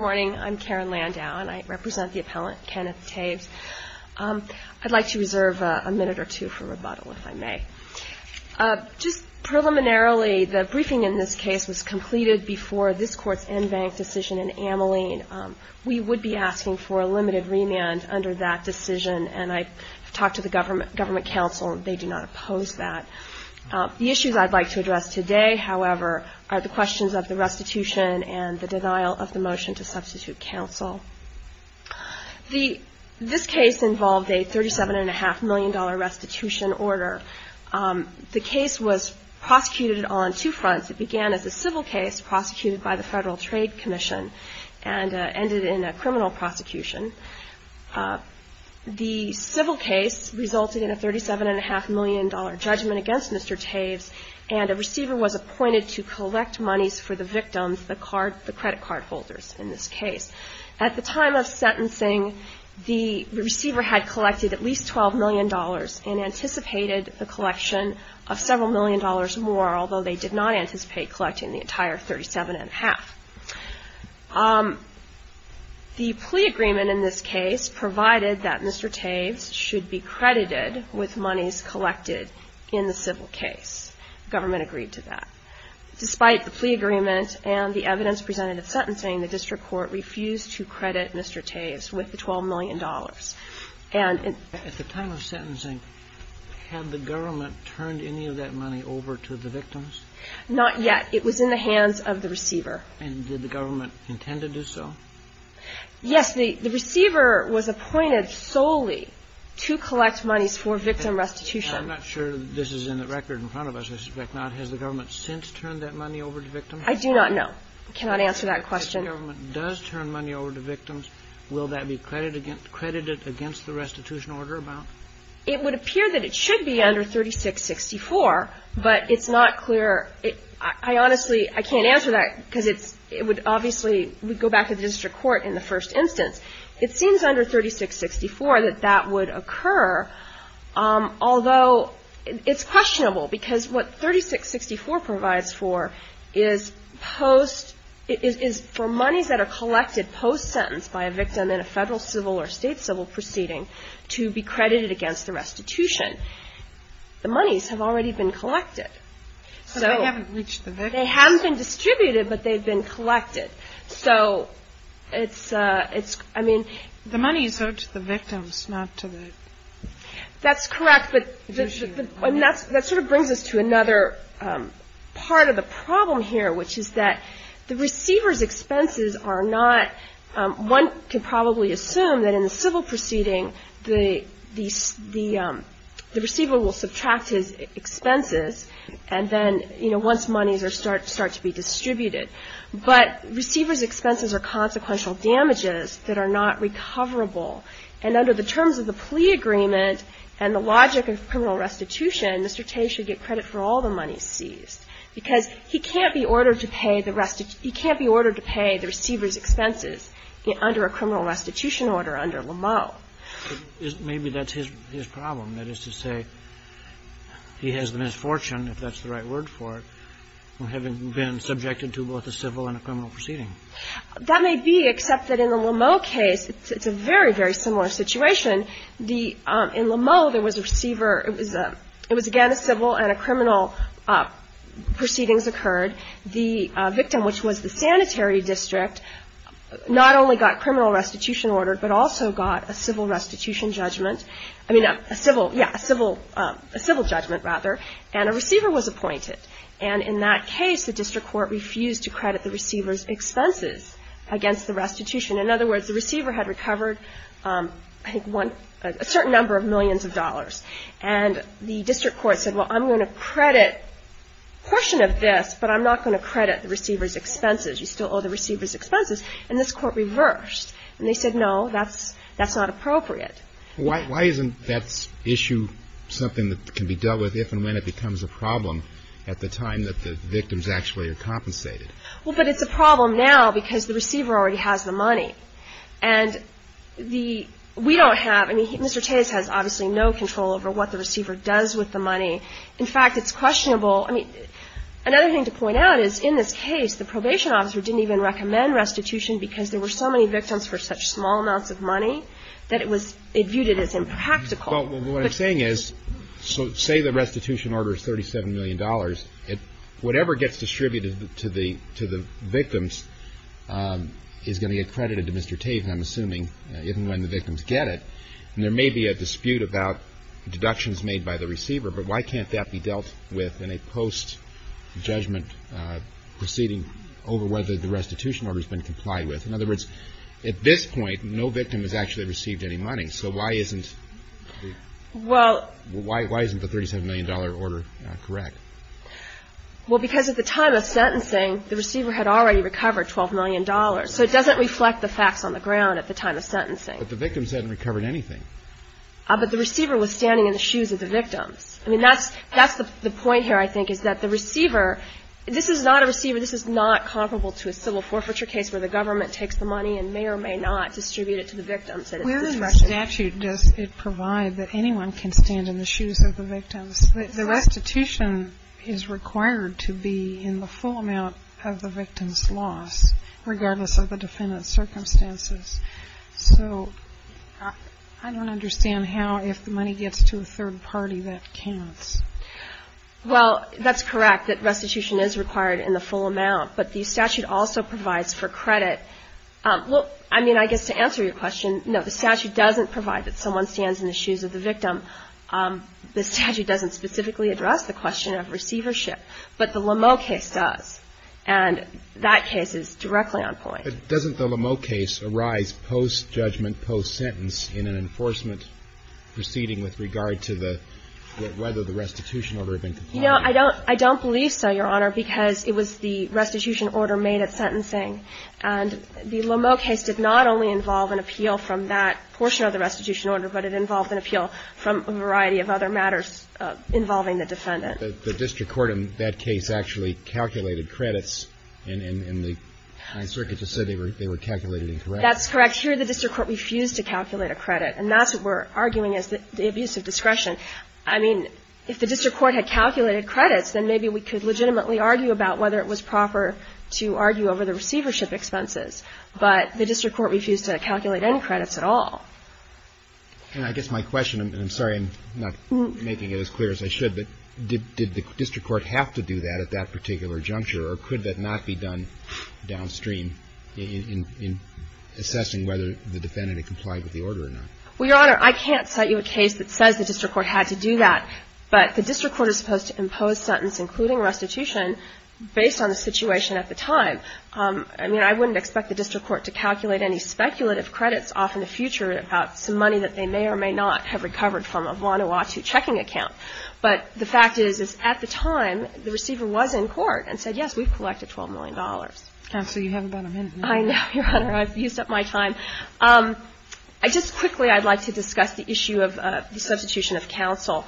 I'm Karen Landau, and I represent the appellant, Kenneth Taves. I'd like to reserve a minute or two for rebuttal, if I may. Just preliminarily, the briefing in this case was completed before this Court's en banc decision in Ameline. We would be asking for a limited remand under that decision, and I've talked to the Government Council. They do not oppose that. The issues I'd like to address today, however, are the questions of the restitution and the substitute counsel. This case involved a $37.5 million restitution order. The case was prosecuted on two fronts. It began as a civil case, prosecuted by the Federal Trade Commission, and ended in a criminal prosecution. The civil case resulted in a $37.5 million judgment against Mr. Taves, and a receiver was appointed to collect monies for the victims, the credit card holders in this case. At the time of sentencing, the receiver had collected at least $12 million and anticipated the collection of several million dollars more, although they did not anticipate collecting the entire $37.5. The plea agreement in this case provided that Mr. Taves should be credited with monies collected in the civil case. The Government agreed to that. Despite the plea agreement and the evidence presented at sentencing, the district court refused to credit Mr. Taves with the $12 million. And at the time of sentencing, had the government turned any of that money over to the victims? Not yet. It was in the hands of the receiver. And did the government intend to do so? Yes. The receiver was appointed solely to collect monies for victim restitution. I'm not sure this is in the record in front of us. I suspect not. Has the government since turned that money over to victims? I do not know. I cannot answer that question. If the government does turn money over to victims, will that be credited against the restitution order amount? It would appear that it should be under 3664, but it's not clear. I honestly, I can't answer that because it would obviously go back to the district court in the first instance. It seems under 3664 that that would occur, although it's questionable because what 3664 provides for is post, is for monies that are collected post-sentence by a victim in a federal civil or state civil proceeding to be credited against the restitution. The monies have already been collected. So they haven't reached the victims? They haven't been distributed, but they've been collected. So it's, it's, I mean... The monies are to the victims, not to the... That's correct, but that sort of brings us to another part of the problem here, which is that the receiver's expenses are not, one can probably assume that in the civil proceeding the receiver will subtract his expenses and then, you know, once monies start to be distributed, but receiver's expenses are consequential damages that are not recoverable. And under the terms of the plea agreement and the logic of criminal restitution, Mr. Tay should get credit for all the monies seized, because he can't be ordered to pay the rest, he can't be ordered to pay the receiver's expenses under a criminal restitution order under Lameau. Maybe that's his problem, that is to say, he has the misfortune, if that's the right word for it, of having been subjected to both a civil and a criminal proceeding. That may be, except that in the Lameau case, it's a very, very similar situation. In Lameau, there was a receiver, it was again a civil and a criminal proceedings occurred. The victim, which was the sanitary district, not only got criminal restitution ordered, but also got a civil restitution judgment. I mean, a civil, yeah, a civil judgment rather, and a receiver was appointed. And in that case, the district court refused to credit the receiver's expenses against the restitution. In other words, the receiver had recovered, I think, a certain number of millions of dollars. And the district court said, well, I'm going to credit a portion of this, but I'm not going to credit the receiver's expenses. You still owe the receiver's expenses. And this court reversed. And they said, no, that's not appropriate. Why isn't that issue something that can be dealt with if and when it becomes a problem at the time that the victims actually are compensated? Well, but it's a problem now because the receiver already has the money. And the – we don't have – I mean, Mr. Tatis has obviously no control over what the receiver does with the money. In fact, it's questionable – I mean, another thing to point out is, in this case, the probation officer didn't even recommend restitution because there were so many victims for such small amounts of money that it was – it viewed it as impractical. Well, what I'm saying is, so say the restitution order is $37 million. Whatever gets distributed to the – to the victims is going to get credited to Mr. Tatis, I'm assuming, even when the victims get it. And there may be a dispute about deductions made by the receiver, but why can't that be dealt with in a post-judgment proceeding over whether the restitution order has been complied with? In other words, at this point, no victim has actually received any money. So why isn't the – why isn't the $37 million order correct? Well, because at the time of sentencing, the receiver had already recovered $12 million. So it doesn't reflect the facts on the ground at the time of sentencing. But the victims hadn't recovered anything. But the receiver was standing in the shoes of the victims. I mean, that's – that's the point here, I think, is that the receiver – this is not a receiver – this is not comparable to a civil forfeiture case where the government takes the money and may or may not distribute it to the victims at its discretion. But in the statute, does it provide that anyone can stand in the shoes of the victims? The restitution is required to be in the full amount of the victim's loss, regardless of the defendant's circumstances. So I don't understand how, if the money gets to a third party, that counts. Well, that's correct, that restitution is required in the full amount. But the statute also provides for credit – well, I mean, I guess to answer your question, no, the statute doesn't provide that someone stands in the shoes of the victim. The statute doesn't specifically address the question of receivership. But the Lameau case does. And that case is directly on point. But doesn't the Lameau case arise post-judgment, post-sentence in an enforcement proceeding with regard to the – whether the restitution order had been complied with? You know, I don't – I don't believe so, Your Honor, because it was the restitution order made at sentencing. And the Lameau case did not only involve an appeal from that portion of the restitution order, but it involved an appeal from a variety of other matters involving the defendant. The district court in that case actually calculated credits in the – and the circuit just said they were calculated incorrectly. That's correct. Here, the district court refused to calculate a credit. And that's what we're arguing is the abuse of discretion. I mean, if the district court had calculated to argue over the receivership expenses. But the district court refused to calculate any credits at all. And I guess my question – and I'm sorry I'm not making it as clear as I should, but did the district court have to do that at that particular juncture? Or could that not be done downstream in assessing whether the defendant had complied with the order or not? Well, Your Honor, I can't cite you a case that says the district court had to do that. But the district court is supposed to impose sentence, including restitution, based on the situation at the time. I mean, I wouldn't expect the district court to calculate any speculative credits off in the future about some money that they may or may not have recovered from a Vanuatu checking account. But the fact is, is at the time, the receiver was in court and said, yes, we've collected $12 million. Counsel, you have about a minute. I know, Your Honor. I've used up my time. Just quickly, I'd like to discuss the issue of the substitution of counsel.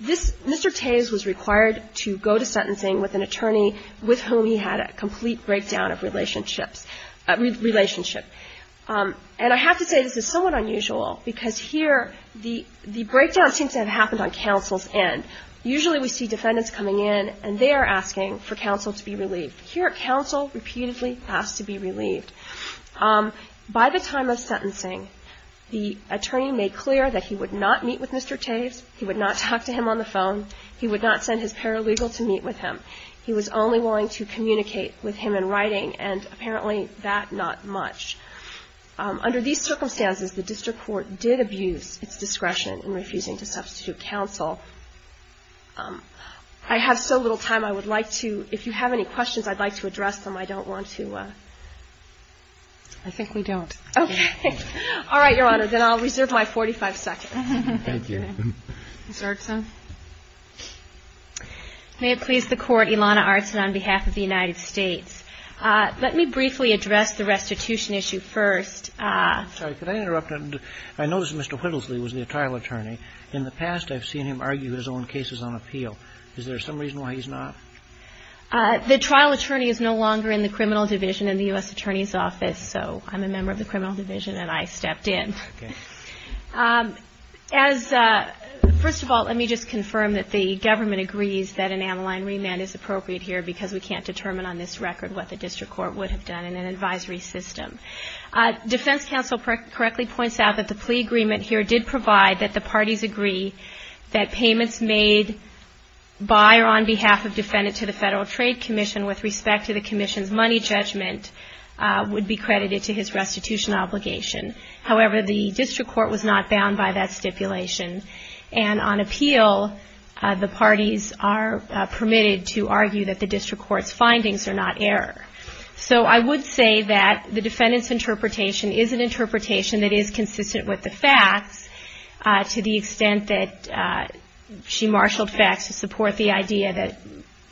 This – Mr. Tavis is the attorney with whom he had a complete breakdown of relationships – relationship. And I have to say, this is somewhat unusual, because here the – the breakdown seems to have happened on counsel's end. Usually, we see defendants coming in and they are asking for counsel to be relieved. Here, counsel repeatedly has to be relieved. By the time of sentencing, the attorney made clear that he would not meet with Mr. Tavis, he would not talk to him on the phone, he would not send his paralegal to meet with him. He was only willing to communicate with him in writing, and apparently that not much. Under these circumstances, the district court did abuse its discretion in refusing to substitute counsel. I have so little time, I would like to – if you have any questions, I'd like to address them. I don't want to – I think we don't. Okay. All right, Your Honor. Then I'll reserve my 45 seconds. Thank you. Ms. Erickson? May it please the Court, Ilana Artson on behalf of the United States. Let me briefly address the restitution issue first. Sorry, could I interrupt? I noticed Mr. Whittlesley was the trial attorney. In the past, I've seen him argue his own cases on appeal. Is there some reason why he's not? The trial attorney is no longer in the criminal division in the U.S. Attorney's Office, so I'm a member of the criminal division and I stepped in. Okay. First of all, let me just confirm that the government agrees that an aniline remand is appropriate here because we can't determine on this record what the district court would have done in an advisory system. Defense counsel correctly points out that the plea agreement here did provide that the parties agree that payments made by or on behalf of defendants to the Federal Trade Commission with respect to the commission's money judgment would be credited to his restitution obligation. However, the district court was not bound by that stipulation. And on appeal, the parties are permitted to argue that the district court's findings are not error. So I would say that the defendant's interpretation is an interpretation that is consistent with the facts to the extent that she marshaled facts to support the idea that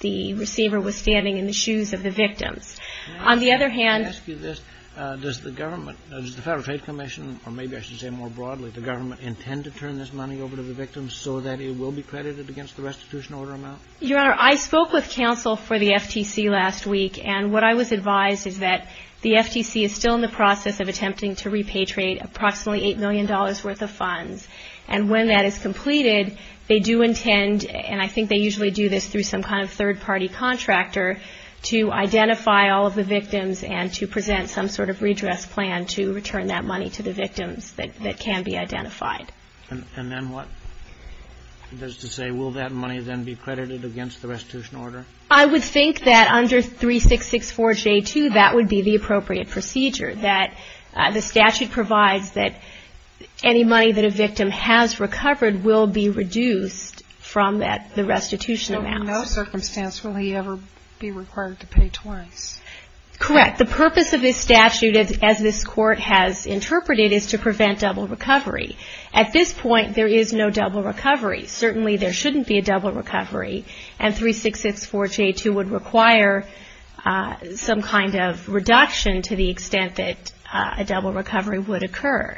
the receiver was standing in the shoes of the victims. On the other hand... Can I ask you this? Does the government, does the Federal Trade Commission, or maybe I should say more broadly, does the government intend to turn this money over to the victims so that it will be credited against the restitution order amount? Your Honor, I spoke with counsel for the FTC last week, and what I was advised is that the FTC is still in the process of attempting to repay trade approximately $8 million worth of funds. And when that is completed, they do intend, and I think they usually do this through some kind of third-party contractor, to identify all of the victims and to present some sort of redress plan to return that money to the victims that can be identified. And then what? That is to say, will that money then be credited against the restitution order? I would think that under 3664J2, that would be the appropriate procedure, that the statute provides that any money that a victim has recovered will be reduced from that, the restitution amount. So in no circumstance will he ever be required to pay twice? Correct. The purpose of this statute, as this Court has interpreted, is to prevent double recovery. At this point, there is no double recovery. Certainly there shouldn't be a double recovery, and 3664J2 would require some kind of reduction to the extent that a double recovery would occur.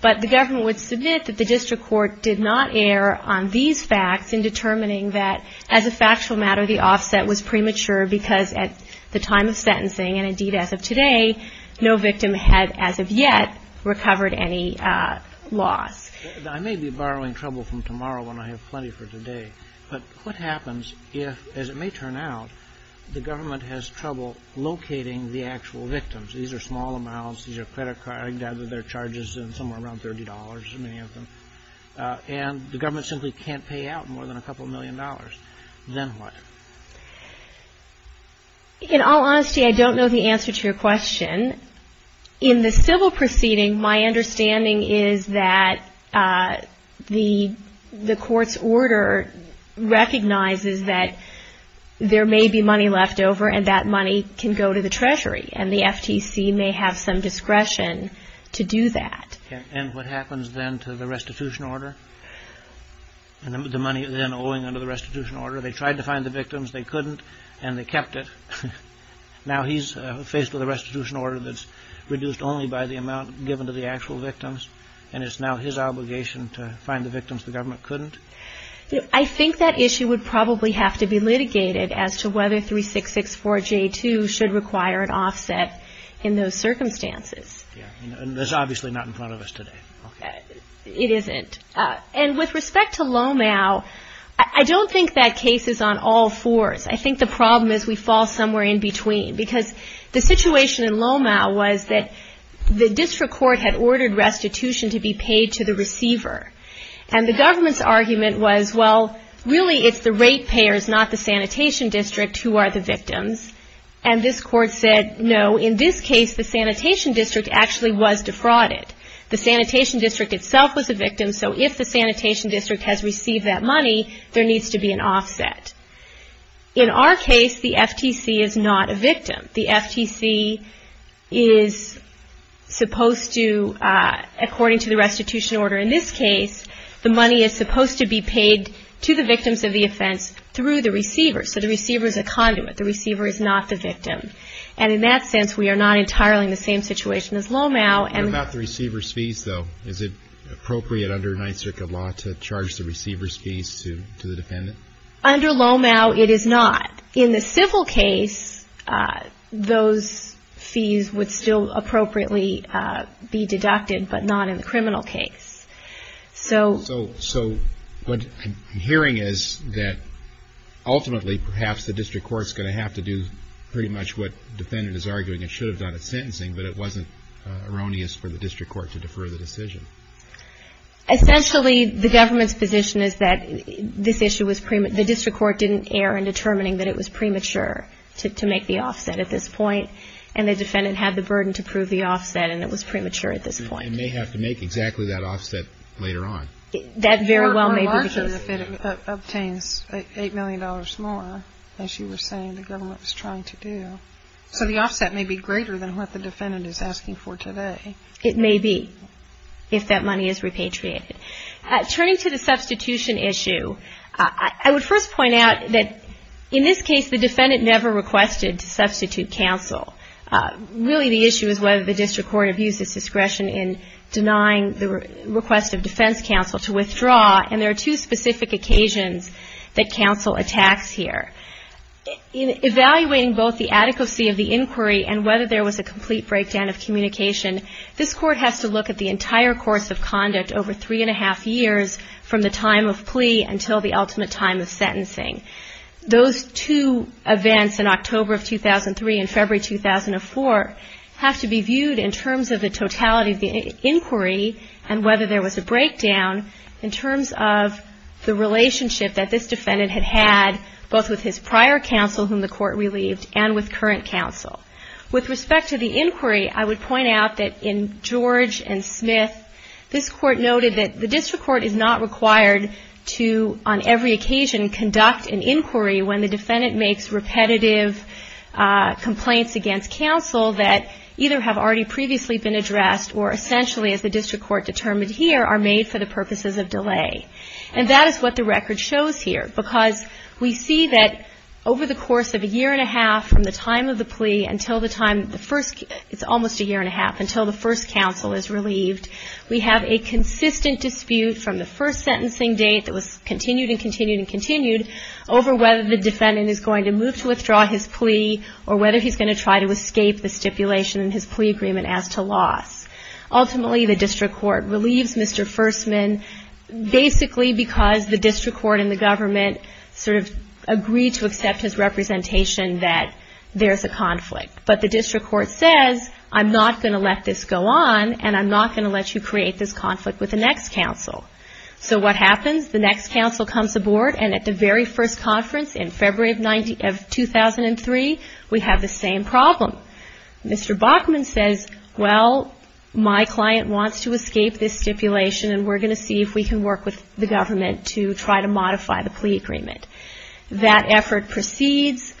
But the government would submit that the District Court did not err on these facts in determining that, as a factual matter, the offset was premature because at the time of sentencing, and indeed as of today, no victim had, as of yet, recovered any loss. I may be borrowing trouble from tomorrow when I have plenty for today, but what happens if, as it may turn out, the government has trouble locating the actual victims? These are small amounts. These are credit cards. I gather their charges are somewhere around $30, as many of them. And the government simply can't pay out more than a couple million dollars. Then what? In all honesty, I don't know the answer to your question. In the civil proceeding, my understanding is that the Court's order recognizes that there may be money left over, and that money can go to the Treasury, and the FTC may have some discretion to do that. And what happens then to the restitution order? The money then owing under the restitution order, they tried to find the victims, they couldn't, and they kept it. Now he's faced with a restitution order that's reduced only by the amount given to the actual victims, and it's now his obligation to find the victims the government couldn't? I think that issue would probably have to be litigated as to whether 3664J2 should require an offset in those circumstances. And that's obviously not in front of us today. It isn't. And with respect to Lomau, I don't think that case is on all fours. I think the problem is we fall somewhere in between. Because the situation in Lomau was that the District Court had ordered restitution to be paid to the receiver. And the government's argument was, well, really it's the rate payers, not the Sanitation District, who are the victims. And this Court said, no, in this case the Sanitation District actually was defrauded. The Sanitation District itself was a victim, so if the Sanitation District has received that money, there needs to be an offset. In our case, the FTC is not a victim. The FTC is supposed to, according to the restitution order in this case, the money is supposed to be paid to the victims of the offense through the receiver. So the receiver is a conduit. The receiver is not the victim. And in that sense, we are not entirely in the same situation as Lomau. What about the receiver's fees, though? Is it appropriate under Ninth Circuit law to charge the receiver's fees to the defendant? Under Lomau, it is not. In the civil case, those fees would still appropriately be deducted, but not in the criminal case. So what I'm hearing is that ultimately, perhaps the District Court is going to have to do pretty much what the defendant is arguing it should have done at sentencing, but it wasn't erroneous for the District Court to defer the decision. Essentially, the government's position is that the District Court didn't err in determining that it was premature to make the offset at this point, and the defendant had the burden to prove the offset, and it was premature at this point. And may have to make exactly that offset later on. That very well may be the case. Your remarks are that it obtains $8 million more, as you were saying the government was trying to do. So the offset may be greater than what the defendant is asking for today. It may be, if that money is repatriated. Turning to the substitution issue, I would first point out that in this case, the defendant never requested to substitute counsel. Really, the issue is whether the District Court abused its discretion in denying the request of defense counsel to withdraw, and there are two specific occasions that counsel attacks here. In evaluating both the adequacy of the inquiry and whether there was a complete breakdown of communication, this Court has to look at the entire course of conduct over three and a half years, from the time of plea until the ultimate time of sentencing. Those two events in October of 2003 and February 2004 have to be viewed in terms of the totality of the inquiry and whether there was a breakdown in terms of the relationship that this defendant had had, both with his prior counsel, whom the Court relieved, and with current counsel. With respect to the inquiry, I would point out that in George and Smith, this Court noted that the District Court is not required to, on every occasion, conduct an inquiry when the defendant makes repetitive complaints against counsel that either have already previously been addressed or essentially, as the District Court determined here, are made for the purposes of delay. And that is what the record shows here, because we see that over the course of a year and a half from the time of the plea until the time of the first, it's almost a year and a half, there's a constant dispute from the first sentencing date that was continued and continued and continued over whether the defendant is going to move to withdraw his plea or whether he's going to try to escape the stipulation in his plea agreement as to loss. Ultimately, the District Court relieves Mr. Fersman basically because the District Court and the government sort of agreed to accept his representation that there's a conflict. But the District Court says, I'm not going to let this go on, and I'm not going to let you create this conflict with the next counsel. So what happens? The next counsel comes aboard, and at the very first conference in February of 2003, we have the same problem. Mr. Bachman says, well, my client wants to escape this stipulation, and we're going to see if we can work with the government to try to modify the plea agreement. That effort proceeds.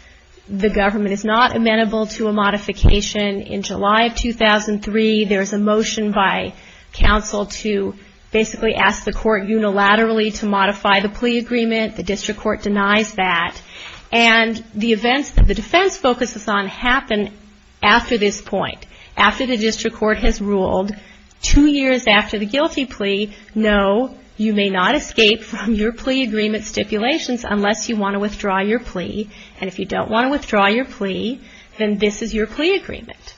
The government is not amenable to a modification. In July of 2003, there's a motion by counsel to basically ask the court unilaterally to modify the plea agreement. The District Court denies that. And the events that the defense focuses on happen after this point, after the District Court has ruled two years after the guilty plea, no, you may not escape from your plea agreement stipulations unless you want to withdraw your plea. And if you don't want to withdraw your plea, then this is your plea agreement.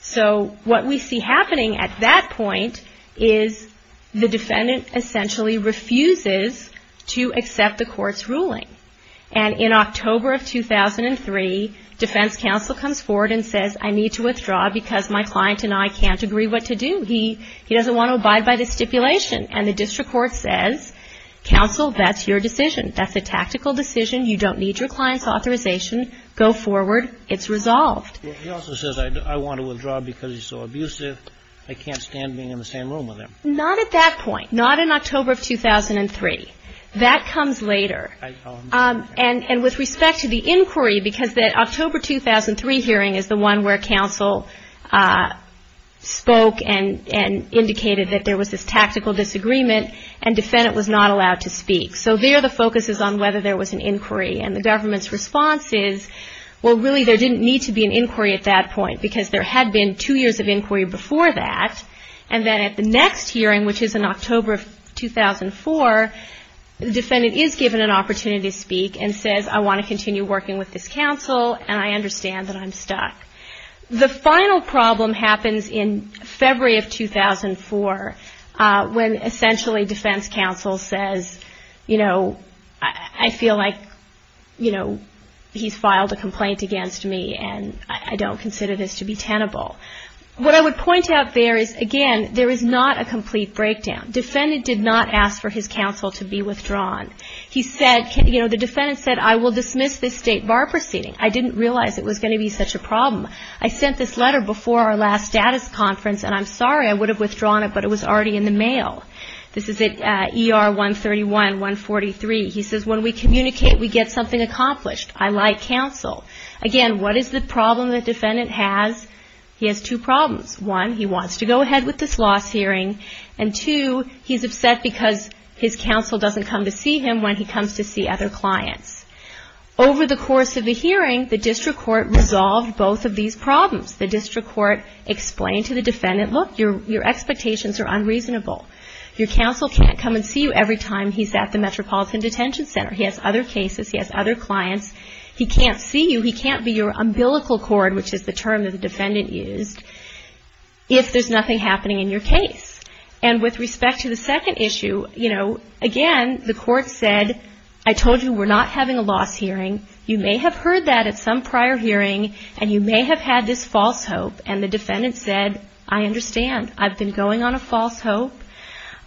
So what we see happening at that point is the defendant essentially refuses to accept the court's ruling. And in October of 2003, defense counsel comes forward and says, I need to withdraw because my client and I can't agree what to do. He doesn't want to abide by this stipulation. And the District Court says, counsel, that's your decision. That's a tactical decision. You don't need your client's authorization. Go forward. It's resolved. He also says, I want to withdraw because he's so abusive. I can't stand being in the same room with him. Not at that point. Not in October of 2003. That comes later. And with respect to the inquiry, because that October 2003 hearing is the one where counsel spoke and indicated that there was this tactical disagreement and defendant was not allowed to speak. So there the focus is on whether there was an inquiry. And the government's response is, well, really there didn't need to be an inquiry at that point because there had been two years of inquiry before that. And then at the next hearing, which is in October of 2004, the defendant is given an opportunity to speak and says, I want to continue working with this counsel and I understand that I'm stuck. The final problem happens in February of 2004 when essentially defense counsel says, you know, he's filed a complaint against me and I don't consider this to be tenable. What I would point out there is, again, there is not a complete breakdown. Defendant did not ask for his counsel to be withdrawn. He said, you know, the defendant said, I will dismiss this state bar proceeding. I didn't realize it was going to be such a problem. I sent this letter before our last status conference and I'm sorry, I would have withdrawn it, but it was already in the mail. This is at ER 131-143. He says, when we communicate, we get something accomplished. I like counsel. Again, what is the problem the defendant has? He has two problems. One, he wants to go ahead with this loss hearing. And two, he's upset because his counsel doesn't come to see him when he comes to see other clients. Over the course of the hearing, the district court resolved both of these problems. The district court explained to the defendant, look, your expectations are unreasonable. Your counsel can't come and see you every time he's at the Metropolitan Detention Center. He has other cases. He has other clients. He can't see you. He can't be your umbilical cord, which is the term the defendant used, if there's nothing happening in your case. And with respect to the second issue, you know, again, the court said, I told you we're not having a loss hearing. You may have heard that at some prior hearing and you may have had this false hope. And the defendant said, I understand. I've been going on a false hope.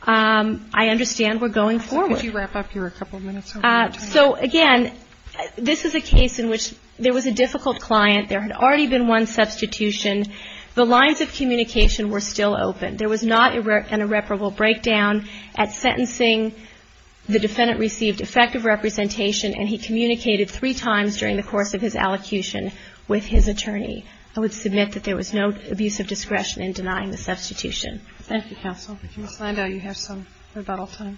I understand we're going forward. Could you wrap up here a couple of minutes? So again, this is a case in which there was a difficult client. There had already been one substitution. The lines of communication were still open. There was not an irreparable breakdown at sentencing. The defendant received effective representation, and he communicated three times during the course of his allocution with his attorney. I would submit that there was no abuse of discretion in denying the substitution. Thank you, counsel. Ms. Landau, you have some rebuttal time.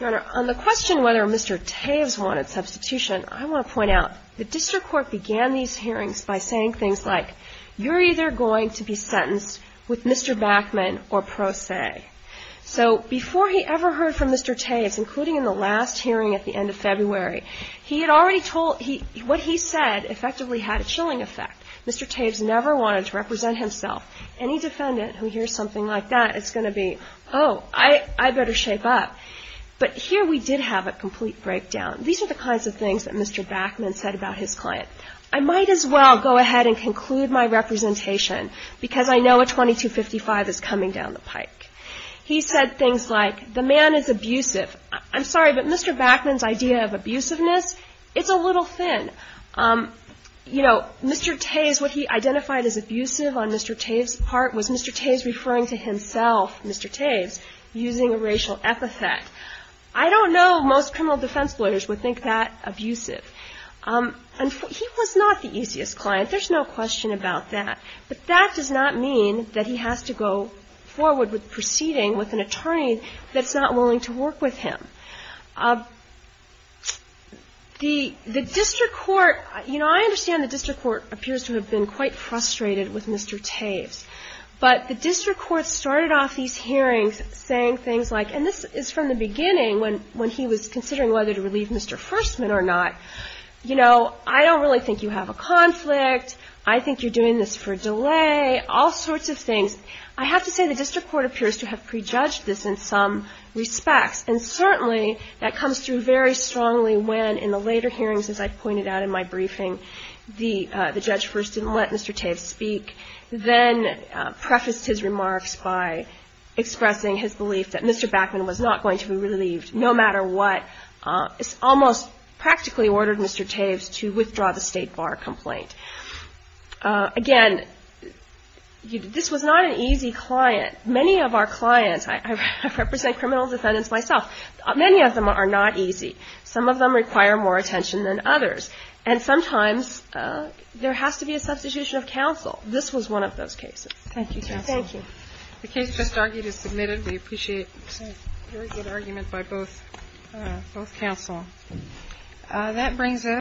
Your Honor, on the question whether Mr. Toews wanted substitution, I want to point out, the district court began these hearings by saying things like, you're either going to be sentenced with Mr. Backman or pro se. So before he ever heard from Mr. Toews, including in the last hearing at the end of February, he had already told — what he said effectively had a chilling effect. Mr. Toews never wanted to represent himself. Any defendant who hears something like that is going to be, oh, I better shape up. But here we did have a complete breakdown. These are the kinds of things that Mr. Backman said about his client. I might as well go ahead and conclude my representation, because I know a 2255 is coming down the pike. He said things like, the man is abusive. I'm sorry, but Mr. Backman's idea of abusiveness, it's a little thin. You know, Mr. Toews, what he identified as abusive on Mr. Toews' part was Mr. Toews referring to himself, Mr. Toews, using a racial epithet. I don't know most criminal defense lawyers would think that abusive. He was not the easiest client. There's no question about that. But that does not mean that he has to go forward with proceeding with an attorney that's not willing to work with him. The district court, you know, I understand the district court appears to have been quite frustrated with Mr. Toews. But the district court started off these hearings saying things like, and this is from the beginning, when he was considering whether to relieve Mr. Firstman or not, you know, I don't really think you have a conflict. I think you're doing this for delay, all sorts of things. I have to say the district court appears to have prejudged this in some respects. And certainly that comes through very strongly when in the later hearings, as I pointed out in my briefing, the judge first didn't let Mr. Toews speak, then prefaced his remarks by expressing his belief that Mr. Backman was not going to be relieved no matter what, almost practically ordered Mr. Toews to withdraw the state bar complaint. Again, this was not an easy client. Many of our clients, I represent criminal defendants myself, many of them are not easy. Some of them require more attention than others. And sometimes there has to be a substitution of counsel. This was one of those cases. Thank you, counsel. Thank you. The case just argued is submitted. We appreciate a very good argument by both counsel. That brings us